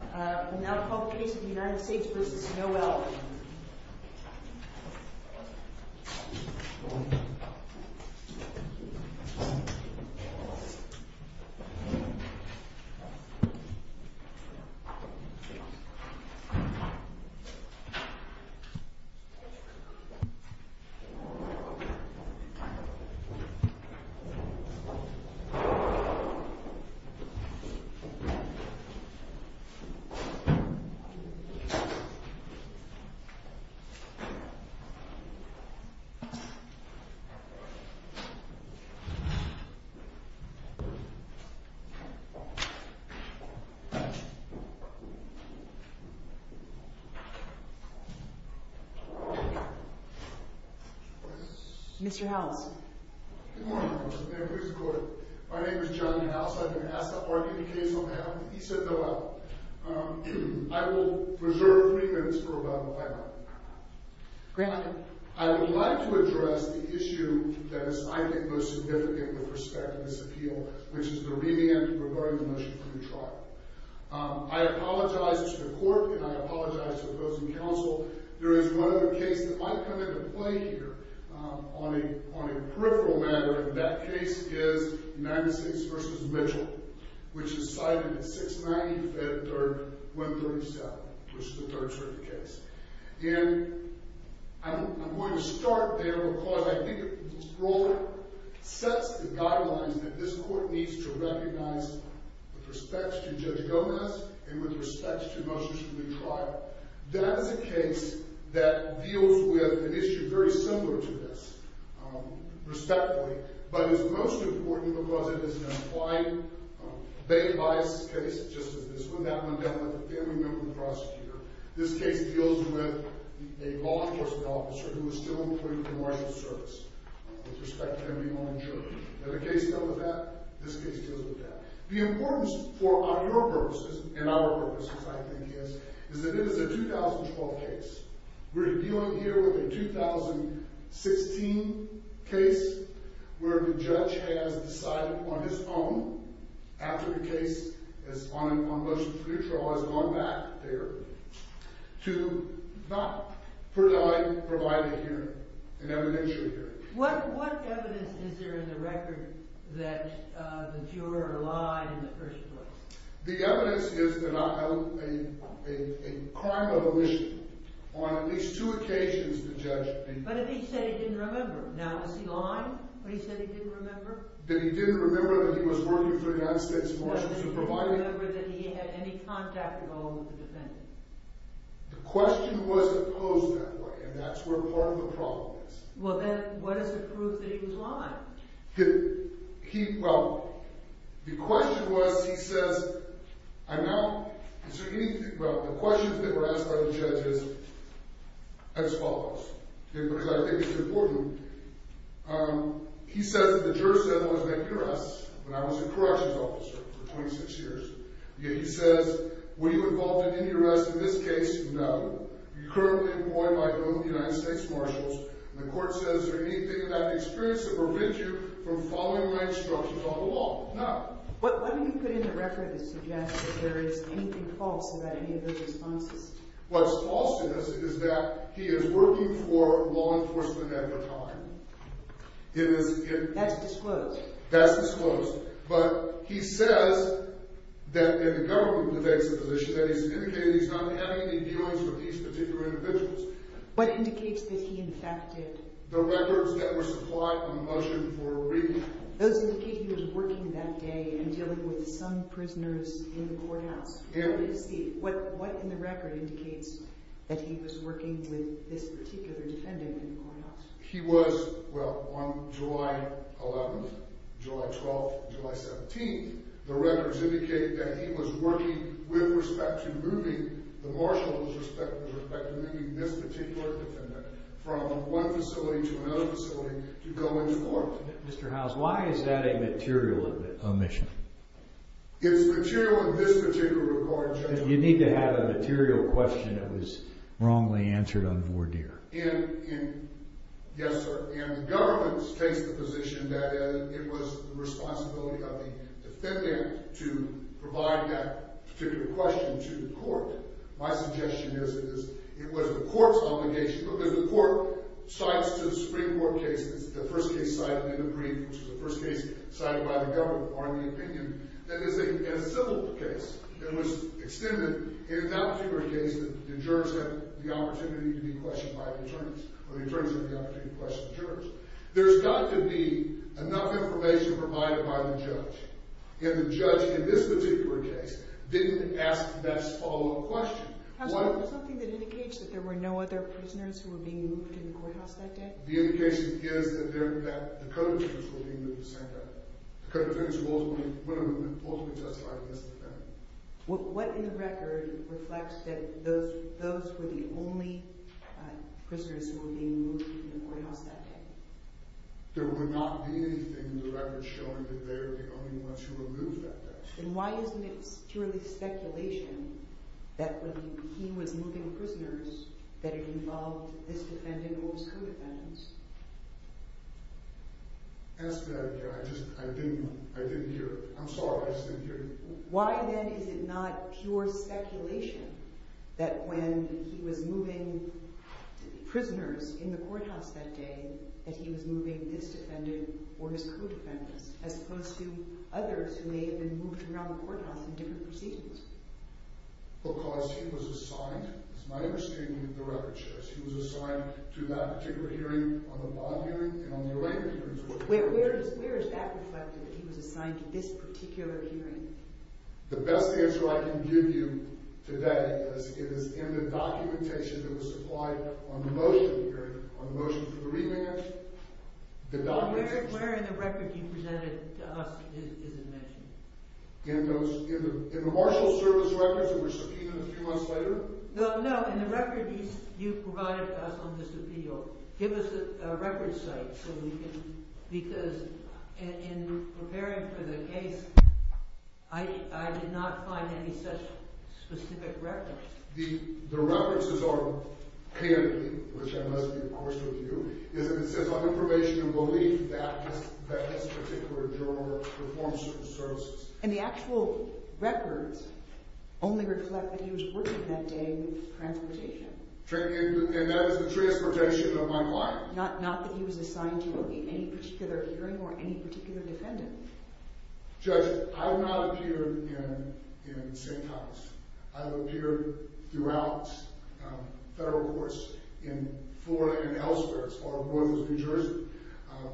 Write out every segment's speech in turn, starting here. We will now call the case of the United States v. Noel. Mr. Howells Good morning, ma'am. My name is John Howells. I've been asked to argue a case on behalf of the peace of the world. I would like to address the issue that is, I think, most significant with respect to this appeal, which is the revamp regarding the motion for the trial. I apologize to the court, and I apologize to those in counsel. There is one other case that might come into play here on a peripheral matter, and that case is United States v. Mitchell, which is cited at 690 Fed Third 137, which is the third circuit case. And I'm going to start there because I think it sets the guidelines that this court needs to recognize with respect to Judge Gomez and with respect to motions for the trial. That is a case that deals with an issue very similar to this, respectfully, but is most important because it is an implied bail bias case, just as this one, that one dealt with a family member of the prosecutor. This case deals with a law enforcement officer who is still employed with the marshal's service, with respect to him being on a juror. Has a case dealt with that? This case deals with that. The importance for our purposes, and our purposes, I think, is that it is a 2012 case. We're dealing here with a 2016 case where the judge has decided on his own, after the case on motions for the trial has gone back there, to not provide a hearing, an evidentiary hearing. What evidence is there in the record that the juror lied in the first place? The evidence is that a crime of omission. On at least two occasions, the judge... But if he said he didn't remember. Now, is he lying when he said he didn't remember? That he didn't remember that he was working for the United States Marshals and provided... That he didn't remember that he had any contact at all with the defendant? The question wasn't posed that way, and that's where part of the problem is. Well then, what is the proof that he was lying? He... Well, the question was, he says... I'm now... Is there anything... Well, the questions that were asked by the judge is as follows. Because I think it's important. He says that the juror said he wanted to make an arrest when I was a corrections officer for 26 years. Yet he says, were you involved in any arrests in this case? No. You're currently employed by both United States Marshals. And the court says, is there anything in that experience that prevents you from following my instructions on the law? No. What do you put in the record that suggests that there is anything false about any of those responses? What's false in this is that he is working for law enforcement at the time. It is... That's disclosed. That's disclosed. But he says that... And the government takes a position that he's indicated he's not having any dealings with these particular individuals. What indicates that he in fact did? The records that were supplied on the motion for reading. Those indicate he was working that day and dealing with some prisoners in the courthouse. And... What is the... What in the record indicates that he was working with this particular defendant in the courthouse? He was... Well, on July 11th, July 12th, July 17th, the records indicate that he was working with respect to moving the Marshals, with respect to moving this particular defendant from one facility to another facility to go into court. Mr. Howes, why is that a material omission? It's material in this particular record, Judge. You need to have a material question that was wrongly answered on voir dire. And... Yes, sir. And the government takes the position that it was the responsibility of the defendant to provide that particular question to the court. My suggestion is it was the court's obligation, because the court cites to the Supreme Court cases the first case cited in the brief, which is the first case cited by the government, or in the opinion, that is a civil case. It was extended in that particular case that the jurors had the opportunity to be questioned by the attorneys, or the attorneys had the opportunity to question the jurors. There's got to be enough information provided by the judge. And the judge, in this particular case, didn't ask that follow-up question. Has there been something that indicates that there were no other prisoners who were being moved in the courthouse that day? The indication is that the co-defendants were being moved the same day. The co-defendants were ultimately justified in this defendant. What in the record reflects that those were the only prisoners who were being moved in the courthouse that day? There would not be anything in the record showing that they were the only ones who were moved that day. Then why isn't it purely speculation that when he was moving prisoners that it involved this defendant or his co-defendants? Answer that again. I didn't hear it. I'm sorry. I just didn't hear you. Why then is it not pure speculation that when he was moving prisoners in the courthouse that day, that he was moving this defendant or his co-defendants, as opposed to others who may have been moved around the courthouse in different proceedings? Because he was assigned, as my understanding of the record shows, he was assigned to that particular hearing, on the bond hearing, and on the arraignment hearing. Where is that reflected, that he was assigned to this particular hearing? The best answer I can give you today is in the documentation that was supplied on the motion of the hearing, on the motion for the remand. Where in the record you presented to us is it mentioned? In the marshal service records that were subpoenaed a few months later? No, no, in the records you provided to us on this appeal. Give us a record site so we can, because in preparing for the case, I did not find any such specific records. The references are candid, which I must be, of course, with you. It consists of information and belief that this particular juror performs certain services. And the actual records only reflect that he was working that day with transportation. And that is the transportation of my client. Not that he was assigned to any particular hearing or any particular defendant. Judge, I have not appeared in St. Thomas. I have appeared throughout federal courts in Florida and elsewhere, as far north as New Jersey.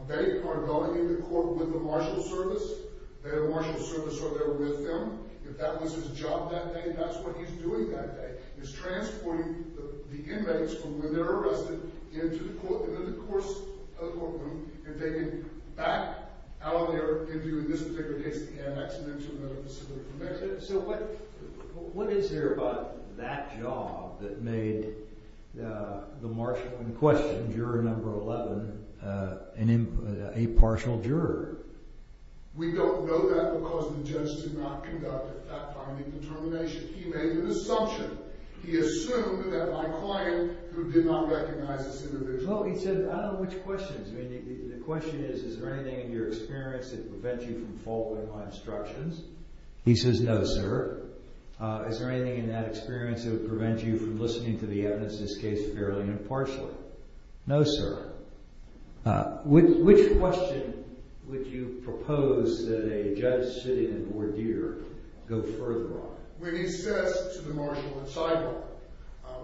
They are going into court with the marshal service. They have a marshal service, so they're with them. If that was his job that day, that's what he's doing that day. He's transporting the inmates from when they're arrested into the court room. And taking back out of their interview, in this particular case, the annex and into another facility. So what is there about that job that made the marshal in question, juror number 11, an impartial juror? We don't know that because the judge did not conduct, at that time, any determination. He made an assumption. He assumed that my client, who did not recognize this individual. Well, he said, I don't know which questions. The question is, is there anything in your experience that would prevent you from following my instructions? He says, no, sir. Is there anything in that experience that would prevent you from listening to the evidence in this case fairly impartially? No, sir. Which question would you propose that a judge sitting in Bordier go further on? When he says to the marshal and sidebar,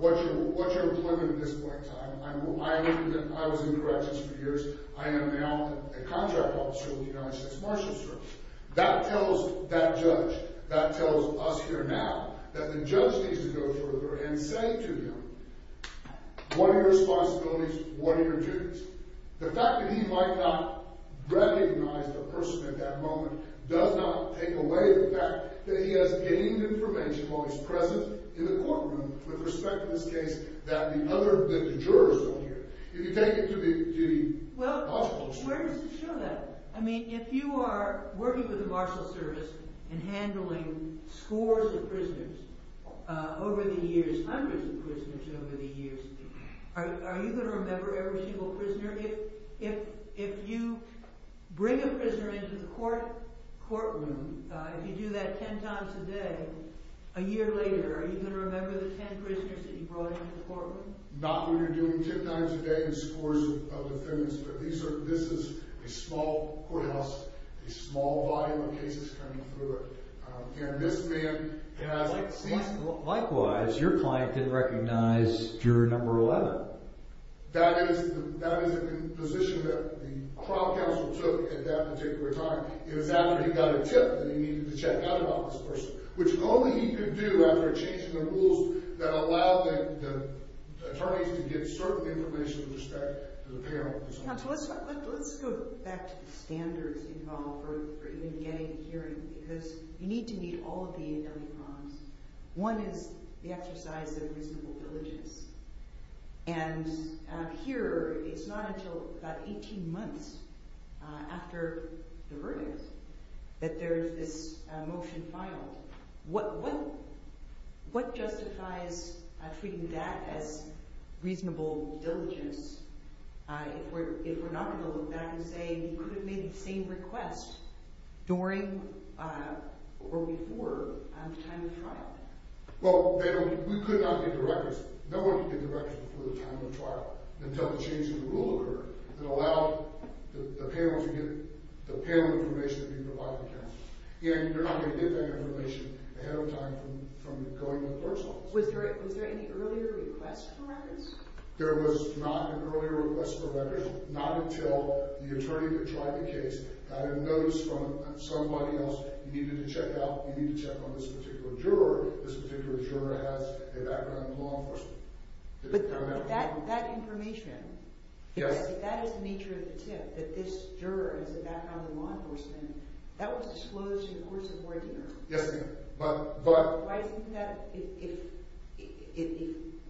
what's your employment at this point in time? I was in corrections for years. I am now a contract officer with the United States Marshals Service. That tells that judge, that tells us here now, that the judge needs to go further and say to him, what are your responsibilities? What are your duties? The fact that he might not recognize the person at that moment does not take away the fact that he has gained information while he's present in the courtroom with respect to this case that the jurors don't hear. If you take it to the logical side. Well, where does it show that? I mean, if you are working with the Marshals Service and handling scores of prisoners over the years, hundreds of prisoners over the years, are you going to remember every single prisoner? If you bring a prisoner into the courtroom, if you do that ten times a day, a year later, are you going to remember the ten prisoners that you brought into the courtroom? Not when you're doing ten times a day in scores of defendants, but this is a small courthouse, a small volume of cases coming through it. Likewise, your client didn't recognize juror number 11. That is the position that the trial counsel took at that particular time. It was after he got a tip that he needed to check out about this person, which only he could do after a change in the rules that allowed the attorneys to get certain information with respect to the panel. Let's go back to the standards involved for even getting a hearing, because you need to meet all of the early prompts. One is the exercise of reasonable diligence. And here, it's not until about 18 months after the verdict that there is this motion filed. What justifies treating that as reasonable diligence if we're not going to look back and say, you could have made the same request during or before the time of the trial? Well, we could not get the records. No one could get the records before the time of the trial until the change in the rule occurred. It allowed the panel to get the panel information that we provided them. And you're not going to get that information ahead of time from going to the clerk's office. Was there any earlier request for records? There was not an earlier request for records, not until the attorney that tried the case had a notice from somebody else, you needed to check out, you need to check on this particular juror, this particular juror has a background in law enforcement. But that information, that is the nature of the tip, that this juror has a background in law enforcement. That was disclosed in the course of your interview. Yes, ma'am. But I think that if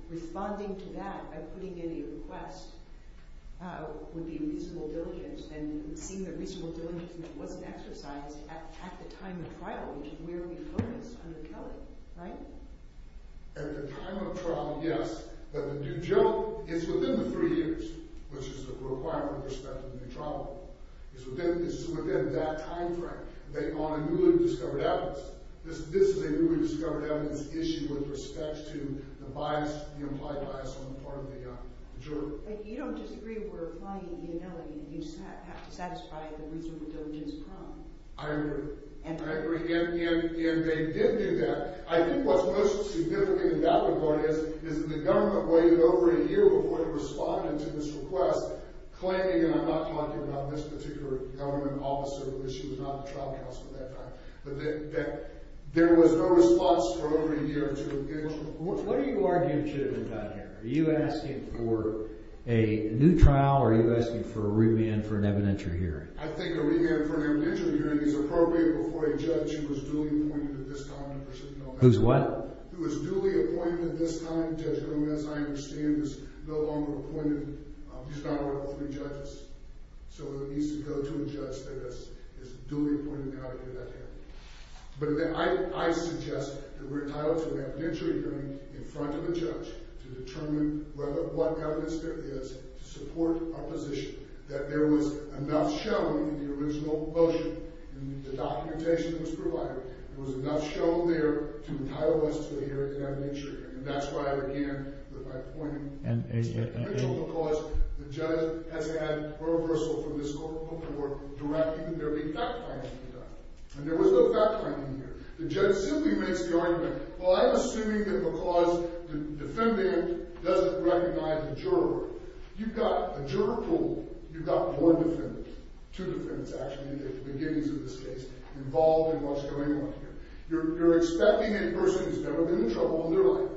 responding to that by putting in a request would be reasonable diligence, and it would seem that reasonable diligence wasn't exercised at the time of trial, which is where we focus under Kelly, right? At the time of trial, yes. But the due judge, it's within the three years, which is the requirement with respect to the due trial. It's within that time frame. On a newly discovered evidence. This is a newly discovered evidence issue with respect to the bias, the implied bias on the part of the juror. But you don't disagree we're applying the ability, you just have to satisfy the reasonable diligence problem. I agree. And they did do that. I think what's most significant and doubtful is that the government waited over a year before they responded to this request, claiming, and I'm not talking about this particular government officer because she was not a trial counsel at that time, but that there was no response for over a year to engagement. What are you arguing should have been done here? Are you asking for a new trial or are you asking for a remand for an evidentiary hearing? I think a remand for an evidentiary hearing is appropriate before a judge who was duly appointed at this time. Who's what? Who was duly appointed at this time. Judge Gomez, I understand, is no longer appointed. He's not one of the three judges. So it needs to go to a judge that is duly appointed now to do that hearing. But I suggest that we're entitled to an evidentiary hearing in front of a judge to determine what evidence there is to support our position. That there was enough shown in the original motion and the documentation that was provided. There was enough shown there to entitle us to a hearing in evidentiary. And that's why, again, by appointing a judge, because the judge has had a reversal from this court of public work, directing there be fact-finding done. And there was no fact-finding here. The judge simply makes the argument, well, I'm assuming that because the defendant doesn't recognize the juror, you've got a juror pool, you've got more defendants. Two defendants, actually, at the beginnings of this case involved in what's going on here. You're expecting a person who's never been in trouble in their life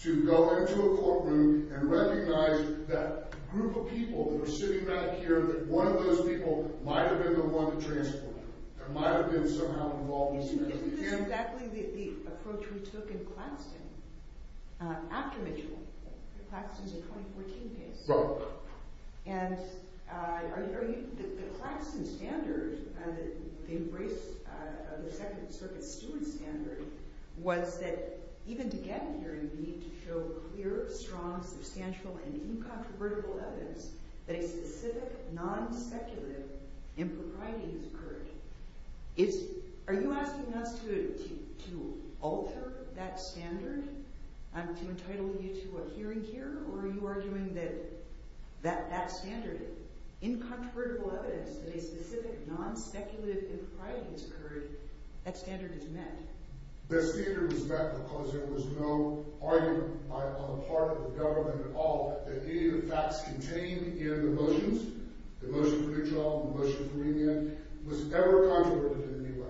to go into a courtroom and recognize that group of people that are sitting right here, that one of those people might have been the one to transport them. That might have been somehow involved in this. Isn't this exactly the approach we took in Claxton after Mitchell? Claxton's a 2014 case. Right. And the Claxton standard, the embrace of the Second Circuit Steward standard, was that even to get a hearing, you need to show clear, strong, substantial, and incontrovertible evidence that a specific non-speculative impropriety has occurred. Are you asking us to alter that standard to entitle you to a hearing here, or are you arguing that that standard, incontrovertible evidence that a specific non-speculative impropriety has occurred, that standard is met? That standard was met because there was no argument on the part of the government at all that any of the facts contained in the motions, the motion for Mitchell, the motion for Remand, was ever controverted in any way.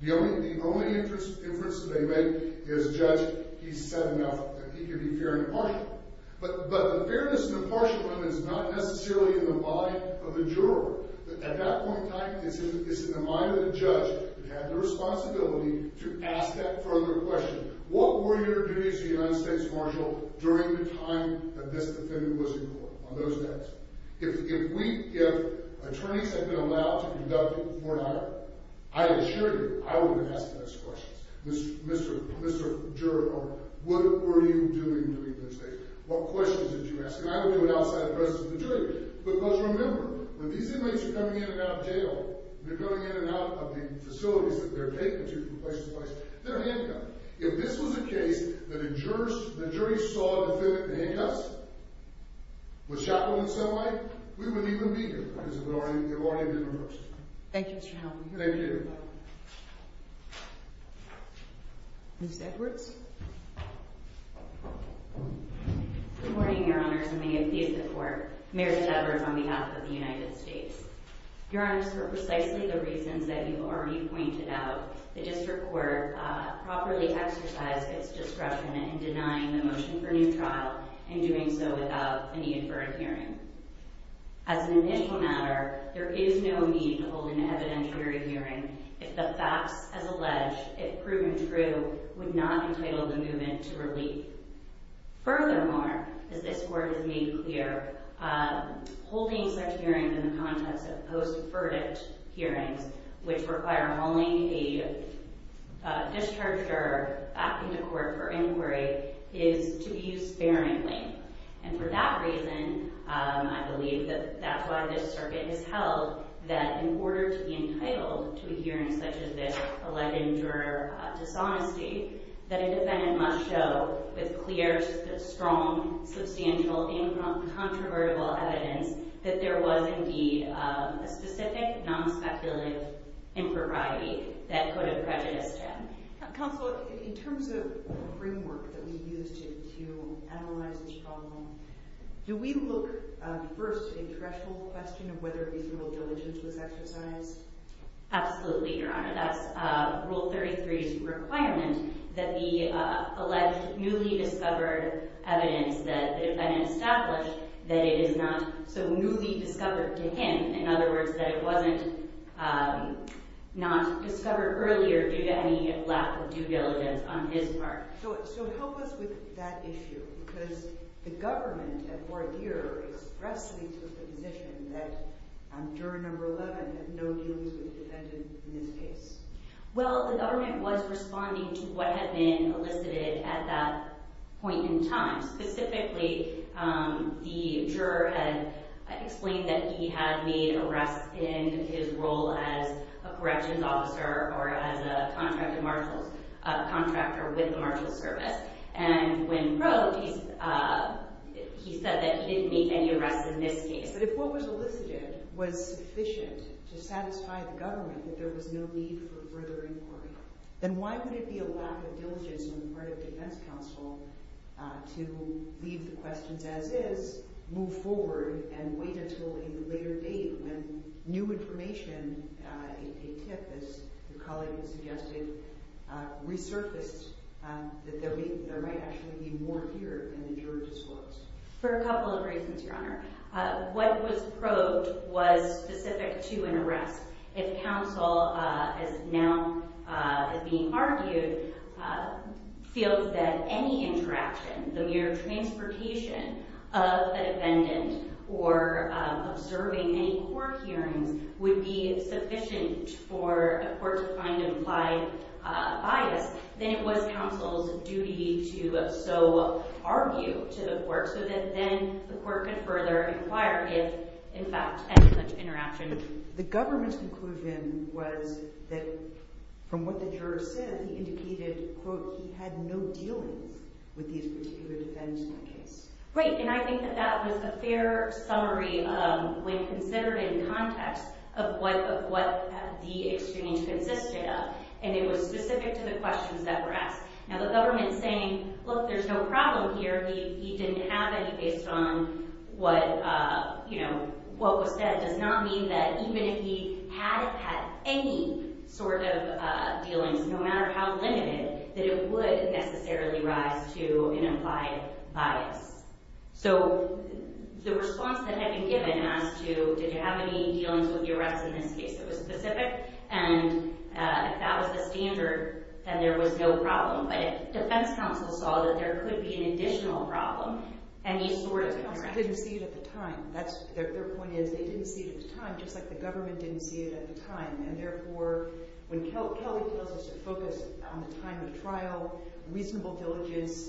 The only inference that they make is Judge, he's said enough, that he could be fair and impartial. But the fairness and impartialism is not necessarily in the body of the juror. At that point in time, it's in the mind of the judge who had the responsibility to ask that further question. What were your duties as the United States Marshal during the time that this defendant was in court? On those days. If attorneys had been allowed to conduct a court hire, I assure you, I would have asked those questions. Mr. Juror, what were you doing during those days? What questions did you ask? And I would do it outside the presence of the jury. Because remember, when these inmates are coming in and out of jail, they're coming in and out of the facilities that they're taken to from place to place, they're handcuffed. If this was a case that a jury saw the defendant in handcuffs, with chaplains that way, we wouldn't even be here because it would already have been reversed. Thank you, Mr. Howell. Thank you. Ms. Edwards. Good morning, Your Honors, and may it please the Court. Mary Edwards on behalf of the United States. Your Honors, for precisely the reasons that you already pointed out, the District Court properly exercised its discretion in denying the motion for new trial and doing so without any inferred hearing. As an initial matter, there is no need to hold an evidentiary hearing if the facts as alleged, if proven true, would not entitle the movement to relief. Furthermore, as this Court has made clear, holding such hearings in the context of post-verdict hearings, which require only a discharge or acting to court for inquiry, is to be used sparingly. And for that reason, I believe that that's why this circuit has held that in order to be entitled to a hearing such as this, alleged injurer dishonesty, that a defendant must show with clear, strong, substantial, incontrovertible evidence that there was indeed a specific non-speculative impropriety that could have prejudiced him. Counsel, in terms of the framework that we used to analyze this problem, do we look first at a threshold question of whether reasonable diligence was exercised? Absolutely, Your Honor. That's Rule 33's requirement that the alleged newly discovered evidence that the defendant established that it is not so newly discovered to him. In other words, that it wasn't not discovered earlier due to any lack of due diligence on his part. So help us with that issue, because the government at voir dire expressly took the position that juror number 11 had no dealings with the defendant in this case. Well, the government was responding to what had been elicited at that point in time, specifically the juror had explained that he had made arrests in his role as a corrections officer or as a contractor with the Marshals Service. And when broke, he said that he didn't make any arrests in this case. But if what was elicited was sufficient to satisfy the government that there was no need for further inquiry, then why would it be a lack of diligence on the part of defense counsel to leave the questions as is, move forward, and wait until a later date when new information, a tip, as your colleague has suggested, resurfaced that there might actually be more here than the juror disclosed? For a couple of reasons, Your Honor. What was probed was specific to an arrest. If counsel, as now is being argued, feels that any interaction, the mere transportation of the defendant or observing any court hearings would be sufficient for a court to find implied bias, then it was counsel's duty to so argue to the court so that then the court could further inquire if, in fact, any such interaction. The government's conclusion was that, from what the juror said, he indicated, quote, he had no dealings with these particular defense counsels. Right, and I think that that was a fair summary when considered in context of what the exchange consisted of, and it was specific to the questions that were asked. Now, the government saying, look, there's no problem here, he didn't have any based on what was said does not mean that even if he had had any sort of dealings, no matter how limited, that it would necessarily rise to an implied bias. So the response that had been given as to, did you have any dealings with the arrests in this case that was specific, and if that was the standard, then there was no problem. But if defense counsel saw that there could be an additional problem, any sort of interaction. I didn't see it at the time. Their point is they didn't see it at the time, just like the government didn't see it at the time. And therefore, when Kelly tells us to focus on the time of the trial, reasonable diligence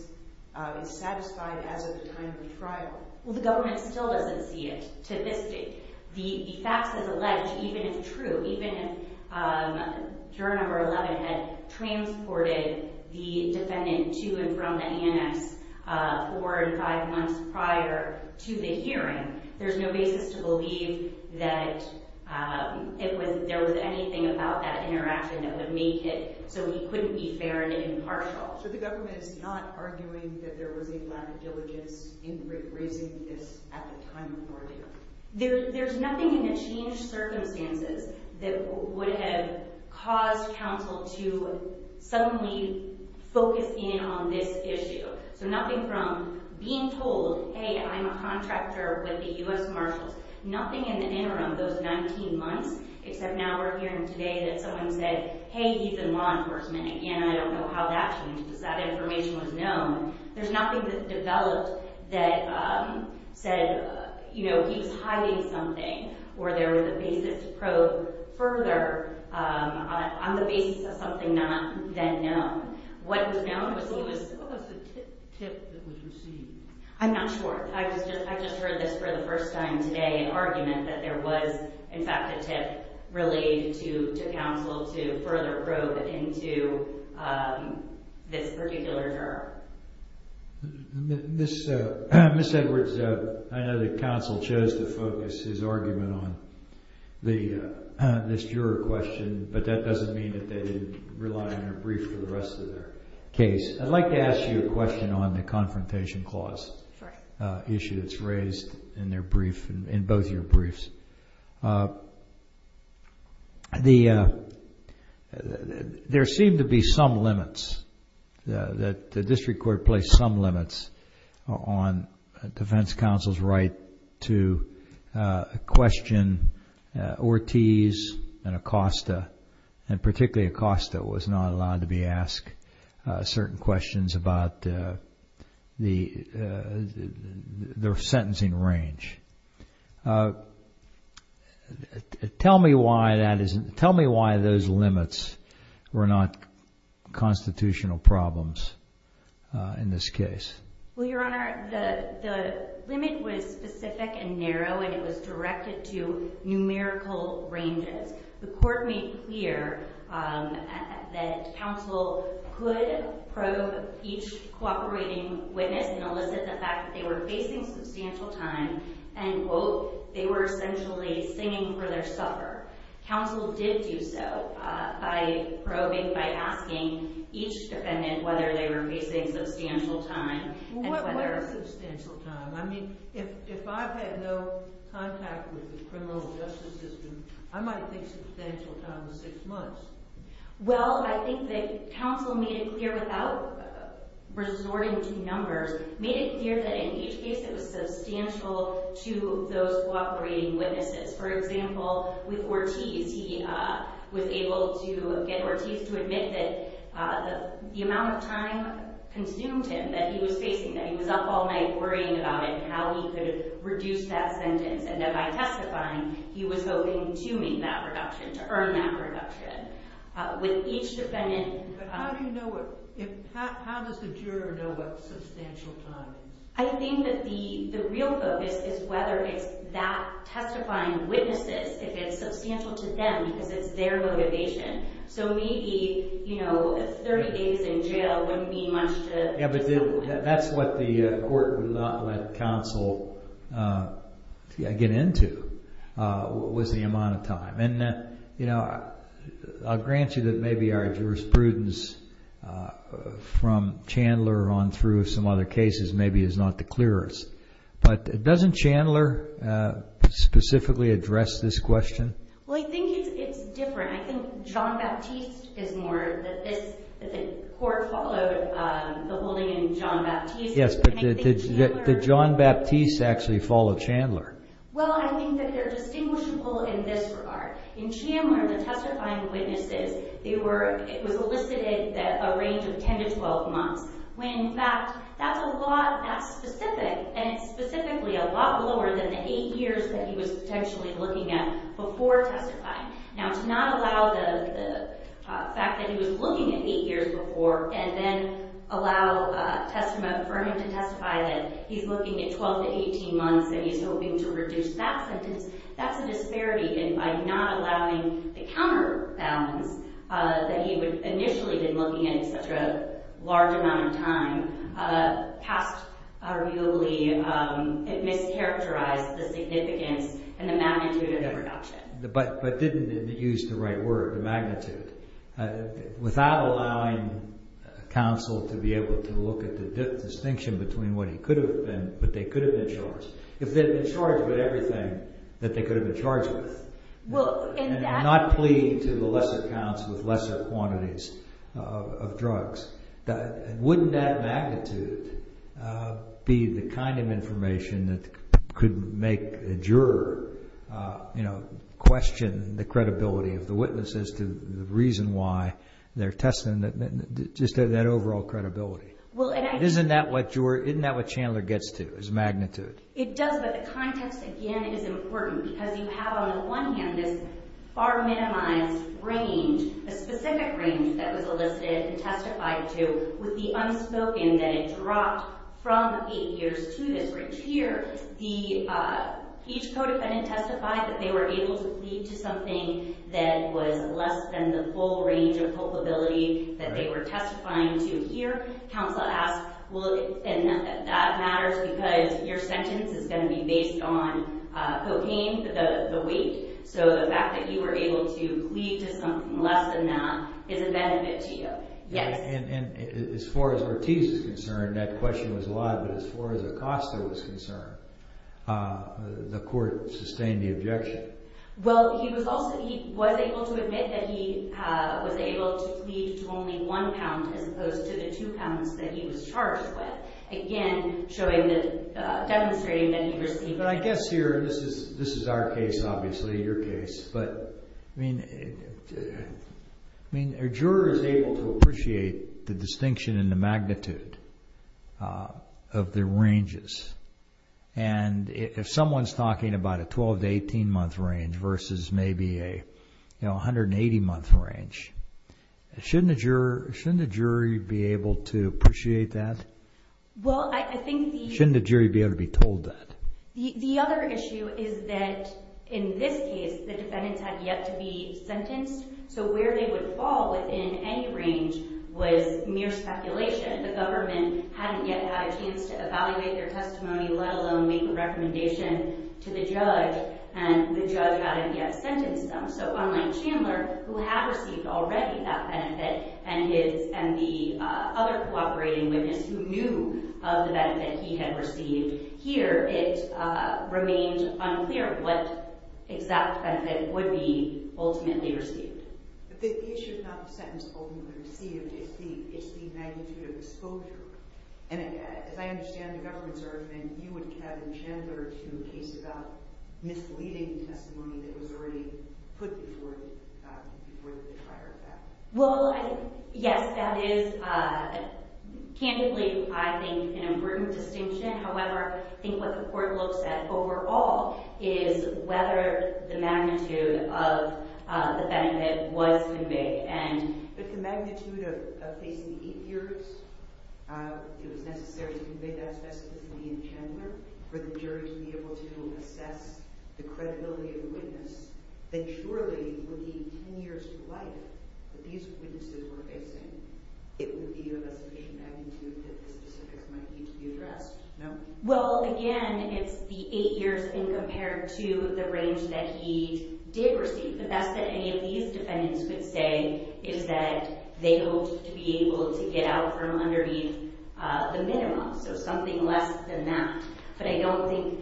is satisfied as of the time of the trial. Well, the government still doesn't see it to this date. The facts as alleged, even if true, even if juror number 11 had transported the defendant to and from the ANS four and five months prior to the hearing, there's no basis to believe that there was anything about that interaction that would make it so he couldn't be fair and impartial. So the government is not arguing that there was a lack of diligence in raising this at the time of the ordeal? There's nothing in the changed circumstances that would have caused counsel to suddenly focus in on this issue. So nothing from being told, hey, I'm a contractor with the U.S. Marshals, nothing in the interim, those 19 months, except now we're hearing today that someone said, hey, he's in law enforcement. Again, I don't know how that changed because that information was known. There's nothing that developed that said, you know, he was hiding something or there was a basis to probe further on the basis of something not then known. What was the tip that was received? I'm not sure. I just heard this for the first time today, an argument that there was, in fact, a tip really to counsel to further probe into this particular juror. Ms. Edwards, I know that counsel chose to focus his argument on this juror question, but that doesn't mean that they didn't rely on your brief for the rest of their case. I'd like to ask you a question on the Confrontation Clause issue that's raised in both your briefs. There seem to be some limits, that the district court placed some limits on defense counsel's right to question Ortiz and Acosta, and particularly Acosta was not allowed to be asked certain questions about their sentencing range. Tell me why those limits were not constitutional problems in this case. Well, Your Honor, the limit was specific and narrow, and it was directed to numerical ranges. The court made clear that counsel could probe each cooperating witness and elicit the fact that they were facing substantial time, and, quote, they were essentially singing for their suffer. Counsel did do so by probing, by asking each defendant whether they were facing substantial time. What was substantial time? I mean, if I've had no contact with the criminal justice system, I might think substantial time was six months. Well, I think that counsel made it clear without resorting to numbers, made it clear that in each case it was substantial to those cooperating witnesses. For example, with Ortiz, he was able to get Ortiz to admit that the amount of time consumed him that he was facing, that he was up all night worrying about it and how he could reduce that sentence, and then by testifying, he was hoping to make that reduction, to earn that reduction. With each defendant... But how do you know what... how does the juror know what substantial time is? I think that the real focus is whether it's that testifying witnesses, if it's substantial to them because it's their motivation. So maybe, you know, 30 days in jail wouldn't mean much to... Yeah, but that's what the court would not let counsel get into, was the amount of time. And, you know, I'll grant you that maybe our jurisprudence from Chandler on through some other cases maybe is not the clearest, but doesn't Chandler specifically address this question? Well, I think it's different. I think John Baptiste is more that this... that the court followed the holding in John Baptiste. Yes, but did John Baptiste actually follow Chandler? Well, I think that they're distinguishable in this regard. In Chandler, the testifying witnesses, they were... it was elicited a range of 10 to 12 months when, in fact, that's a lot... that's specific and specifically a lot lower than the 8 years that he was potentially looking at before testifying. Now, to not allow the fact that he was looking at 8 years before and then allow a testament for him to testify that he's looking at 12 to 18 months and he's hoping to reduce that sentence, that's a disparity. And by not allowing the counterbalance that he would initially have been looking at in such a large amount of time, passed arguably... it mischaracterized the significance and the magnitude of the reduction. But didn't it use the right word, the magnitude? Without allowing counsel to be able to look at the distinction between what he could have been, what they could have been charged. If they'd been charged with everything that they could have been charged with and not plead to the lesser counts with lesser quantities of drugs, wouldn't that magnitude be the kind of information that could make a juror question the credibility of the witness as to the reason why they're testing, just that overall credibility? Isn't that what Chandler gets to, is magnitude? It does, but the context, again, is important because you have, on the one hand, this far-minimized range, a specific range that was elicited and testified to with the unspoken that it dropped from eight years to this range. Here, each codefendant testified that they were able to plead to something that was less than the full range of culpability that they were testifying to. Here, counsel asks, and that matters because your sentence is going to be based on cocaine, the weight, so the fact that you were able to plead to something less than that is a benefit to you, yes. As far as Ortiz is concerned, that question was allowed, but as far as Acosta was concerned, the court sustained the objection. Well, he was able to admit that he was able to plead to only one pound as opposed to the two pounds that he was charged with, again demonstrating that he received... But I guess here, this is our case, obviously, your case, but a juror is able to appreciate the distinction in the magnitude of the ranges, and if someone's talking about a 12- to 18-month range versus maybe a 180-month range, shouldn't a jury be able to appreciate that? Well, I think the... Shouldn't a jury be able to be told that? The other issue is that in this case, the defendants had yet to be sentenced, so where they would fall within any range was mere speculation. The government hadn't yet had a chance to evaluate their testimony, let alone make a recommendation to the judge, and the judge hadn't yet sentenced them. So online Chandler, who had received already that benefit, and the other cooperating witness who knew of the benefit he had received, here it remained unclear what exact benefit would be ultimately received. But the issue is not the sentence ultimately received. It's the magnitude of exposure. And as I understand the government's argument, you would cabin Chandler to a case about misleading testimony that was already put before the trial. Well, yes, that is candidly, I think, an important distinction. However, I think what the court looks at overall is whether the magnitude of the benefit was conveyed. But the magnitude of facing eight years, it was necessary to convey that specifically in Chandler for the jury to be able to assess the credibility of a witness that surely would mean ten years to life that these witnesses were facing. It would be of a sufficient magnitude that the specifics might need to be addressed. No? Well, again, it's the eight years in compared to the range that he did receive. The best that any of these defendants could say is that they hoped to be able to get out from underneath the minimum, so something less than that. But I don't think,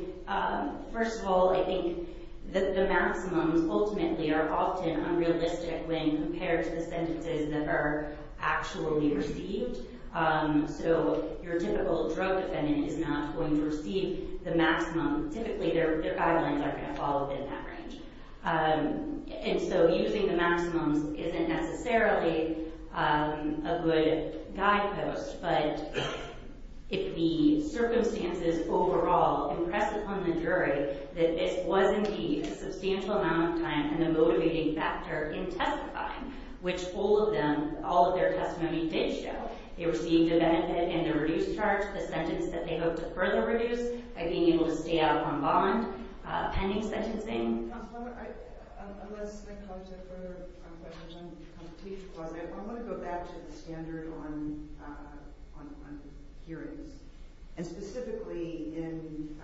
first of all, I think that the maximums ultimately are often unrealistic when compared to the sentences that are actually received. So your typical drug defendant is not going to receive the maximum. Typically, their guidelines aren't going to follow within that range. And so using the maximums isn't necessarily a good guidepost. But if the circumstances overall impress upon the jury that this was indeed a substantial amount of time and a motivating factor in testifying, which all of them, all of their testimony did show, they received a benefit in the reduced charge, the sentence that they hoped to further reduce by being able to stay out of one bond pending sentencing. Counsel, unless there comes a further question on the competition clause, I want to go back to the standard on hearings. And specifically in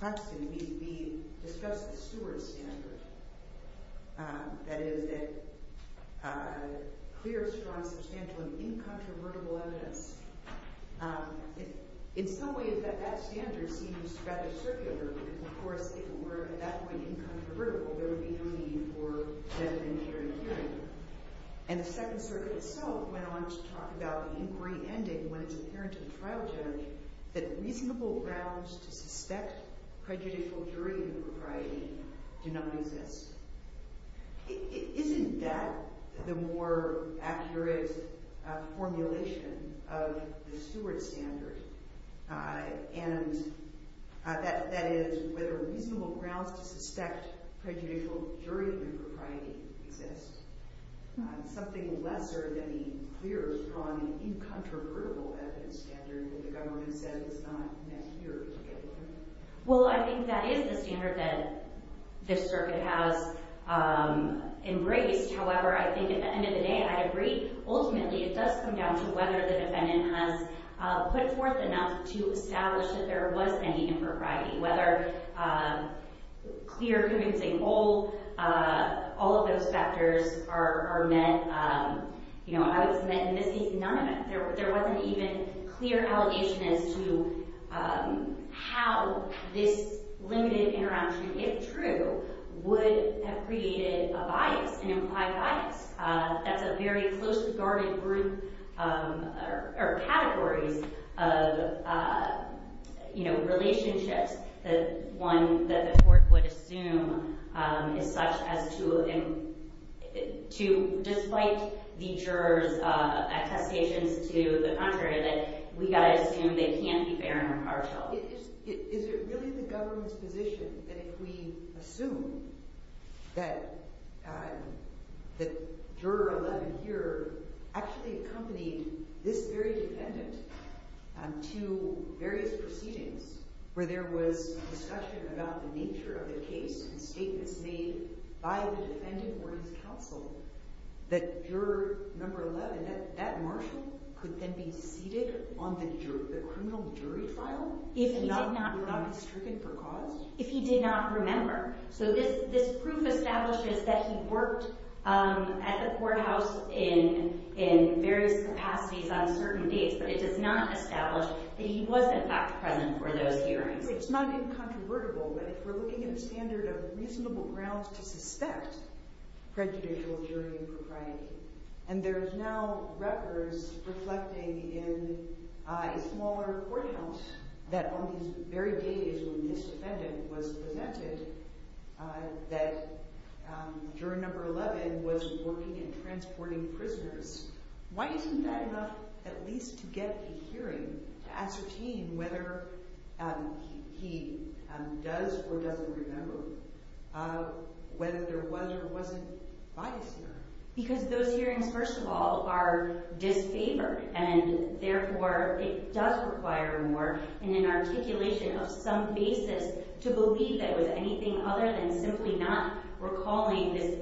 Coxton, we discussed the Stewart standard, that is that clear, strong, substantial, and incontrovertible evidence. In some ways, that standard seems rather circular because, of course, if it were, at that point, incontrovertible, there would be no need for death, injury, or hearing. And the Second Circuit itself went on to talk about the inquiry ending when it's apparent to the trial judge that reasonable grounds to suspect prejudicial jury propriety do not exist. Isn't that the more accurate formulation of the Stewart standard? And that is whether reasonable grounds to suspect prejudicial jury propriety exist. Something lesser than the clear, strong, incontrovertible evidence standard that the government said was not necessary to get rid of. Well, I think that is the standard that this circuit has embraced. However, I think at the end of the day, I agree. Ultimately, it does come down to whether the defendant has put forth enough to establish that there was any impropriety, whether clear, convincing, all of those factors are met. You know, I would submit none of it. There wasn't even clear allegation as to how this limited interaction, if true, would have created a bias, an implied bias. That's a very close-regarded group or categories of, you know, relationships that one that the court would assume is such as to despite the jurors' attestations to the contrary that we've got to assume they can't be fair and impartial. Well, is it really the government's position that if we assume that juror 11 here actually accompanied this very defendant to various proceedings where there was discussion about the nature of the case and statements made by the defendant or his counsel that juror number 11, that that marshal could then be seated on the criminal jury trial and not be stricken for cause? If he did not remember. So this proof establishes that he worked at the courthouse in various capacities on certain dates, but it does not establish that he was in fact present for those hearings. It's not incontrovertible, but if we're looking at a standard of reasonable grounds to suspect prejudicial jury impropriety and there's now records reflecting in a smaller courthouse that on these very days when this defendant was presented that juror number 11 was working and transporting prisoners, why isn't that enough at least to get a hearing to ascertain whether he does or doesn't remember, whether there was or wasn't bias here? Because those hearings first of all are disfavored and therefore it does require more in an articulation of some basis to believe that it was anything other than simply not recalling this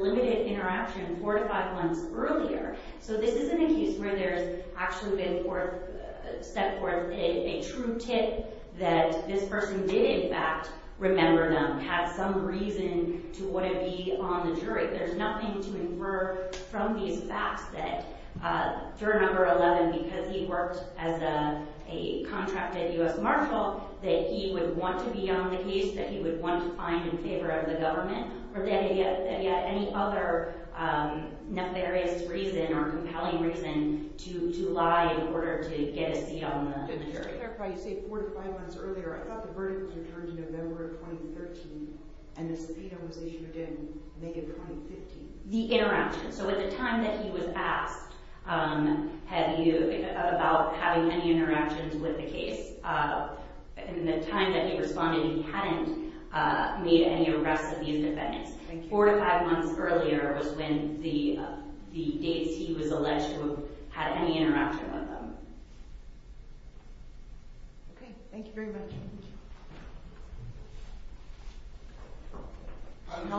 limited interaction four to five months earlier. So this is an incuse where there's actually been set forth a true tip that this person did in fact remember them, had some reason to want to be on the jury. There's nothing to infer from these facts that juror number 11, because he worked as a contracted U.S. Marshal, that he would want to be on the case, that he would want to find in favor of the government, or that he had any other nefarious reason or compelling reason to lie in order to get a seat on the jury. Just to clarify, you say four to five months earlier. I thought the verdict was returned in November of 2013 and the subpoena was issued in May of 2015. The interaction. So at the time that he was asked about having any interactions with the case, in the time that he responded he hadn't made any arrests of these defendants. Thank you. Four to five months earlier was when the dates he was alleged to have had any interaction with them. Okay. Thank you very much. I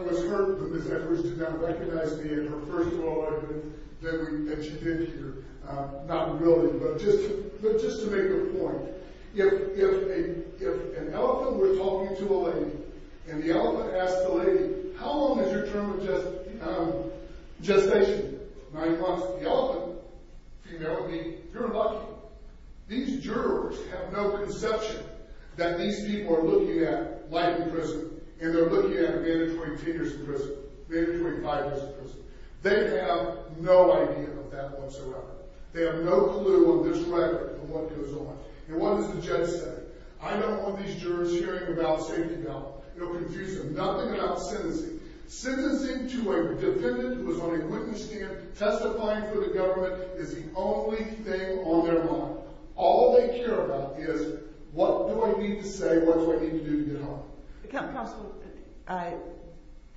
was hurt that Ms. Edwards did not recognize me in her first law argument that she did here. Not really, but just to make the point. If an elephant were talking to a lady and the elephant asked the lady, how long is your term of gestation? The elephant came there with me. You're lucky. These jurors have no conception that these people are looking at life in prison and they're looking at mandatory tenures in prison, mandatory five years in prison. They have no idea of that whatsoever. They have no clue of this rhetoric and what goes on. And what does the judge say? I don't want these jurors hearing about safety belt. It'll confuse them. Nothing about sentencing. Sentencing to a defendant who is on a witness stand testifying for the government is the only thing on their mind. All they care about is what do I need to say, what do I need to do to get home. Counsel,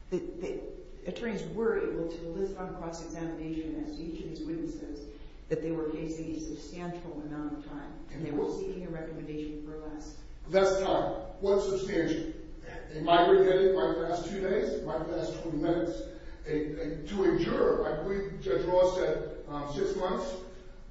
the attorneys were able to list on cross-examination as each of these witnesses that they were facing a substantial amount of time and they were seeking a recommendation for less. Less time. What substantial? A recommendation. In my brief edit, in my last two days, in my last 20 minutes, to a juror, I believe Judge Ross said six months.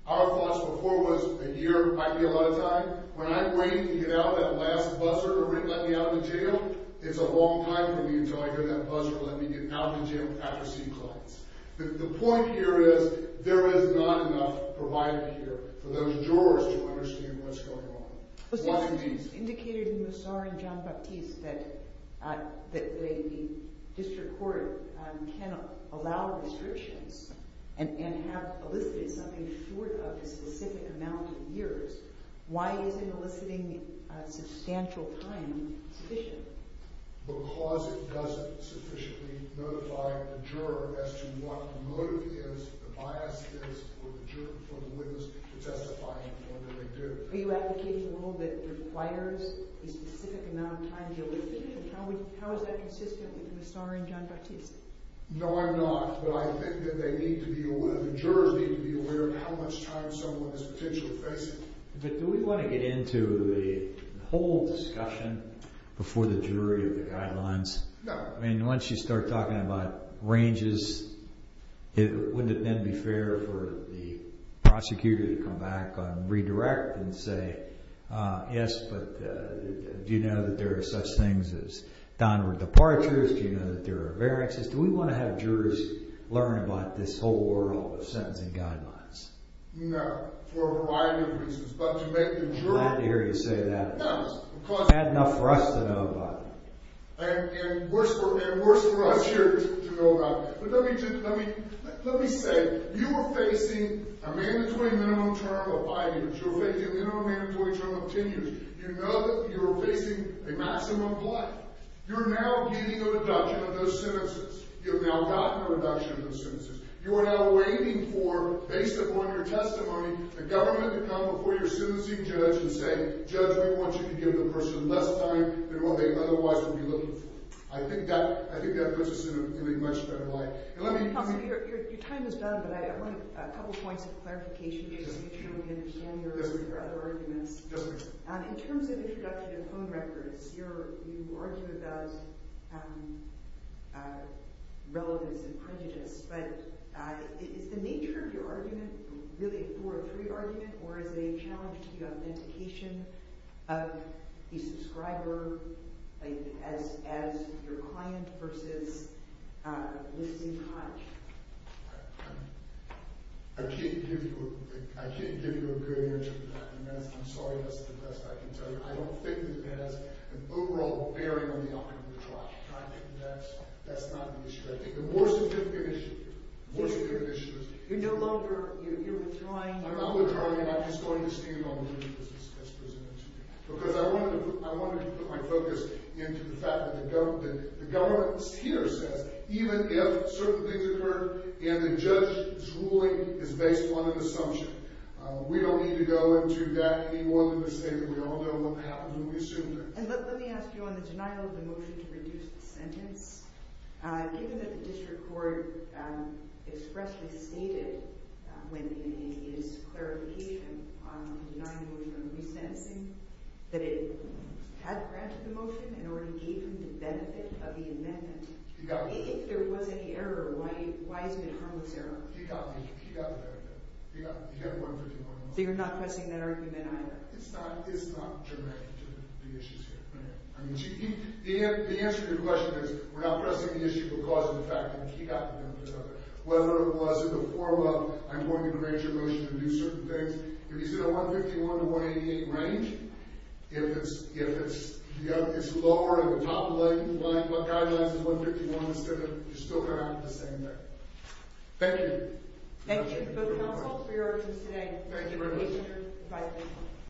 Our thoughts before was a year might be a lot of time. When I'm waiting to get out, that last buzzer, let me out of the jail, it's a long time for me until I hear that buzzer, let me get out of the jail after sequence. The point here is there is not enough provided here for those jurors to understand what's going on. Well, since it was indicated in Mossar and Jean-Baptiste that the district court cannot allow restrictions and have elicited something short of a specific amount of years, why isn't eliciting substantial time sufficient? Because it doesn't sufficiently notify the juror as to what the motive is, the bias is, for the juror, for the witness to testify in the way that they do. Are you advocating a rule that requires a specific amount of time to elicit? How is that consistent with Mossar and Jean-Baptiste? No, I'm not. But I think that they need to be aware, the jurors need to be aware of how much time someone is potentially facing. But do we want to get into the whole discussion before the jury of the guidelines? No. I mean, once you start talking about ranges, wouldn't it then be fair for the prosecutor to come back and redirect and say, yes, but do you know that there are such things as downward departures? Do you know that there are variances? Do we want to have jurors learn about this whole world of sentencing guidelines? No, for a variety of reasons. But to make the juror... I'm glad to hear you say that. No, because... It's bad enough for us to know about it. And worse for us here to know about it. But let me say, you are facing a mandatory minimum term of five years. You're facing a minimum mandatory term of ten years. You know that you are facing a maximum flight. You're now getting a reduction of those sentences. You've now gotten a reduction of those sentences. You are now waiting for, based upon your testimony, the government to come before your sentencing judge and say, Judge, we want you to give the person less time than what they otherwise would be looking for. I think that puts us in a much better light. And let me... Your time is done, but I want a couple points of clarification, just to make sure we understand your other arguments. Yes, ma'am. In terms of introduction and phone records, you argue about relevance and prejudice, but is the nature of your argument really a four or three argument, or is it a challenge to the authentication of the subscriber as your client versus a listening client? I can't give you a good answer to that. And I'm sorry, that's the best I can tell you. I don't think that that has an overall bearing on the outcome of the trial. I think that's not an issue. I think the more significant issue, the more significant issue is... You're no longer... You're withdrawing... I'm withdrawing, and I'm just going to stand on the jury as presented to me. Because I wanted to put my focus into the fact that the government here says, even if certain things occur and the judge's ruling is based on an assumption, we don't need to go into that any more than to say that we all know what happened and we assumed it. And let me ask you, on the denial of the motion to reduce the sentence, given that the district court expressly stated in its clarification on the denial of the motion to reduce the sentencing that it had granted the motion and already gave him the benefit of the amendment, if there was any error, why is it harmless error? He got the benefit. He got $151 million. So you're not pressing that argument either? It's not directed to the issues here. The answer to your question is, we're not pressing the issue of cause and effect. He got the benefit of it. Whether it was in the form of, I'm going to arrange a motion to do certain things, if you said a $151 to $188 range, if it's lower at the top of the guidelines than $151, you're still going to have the same thing. Thank you. Thank you to both counsels for your arguments today. Thank you very much.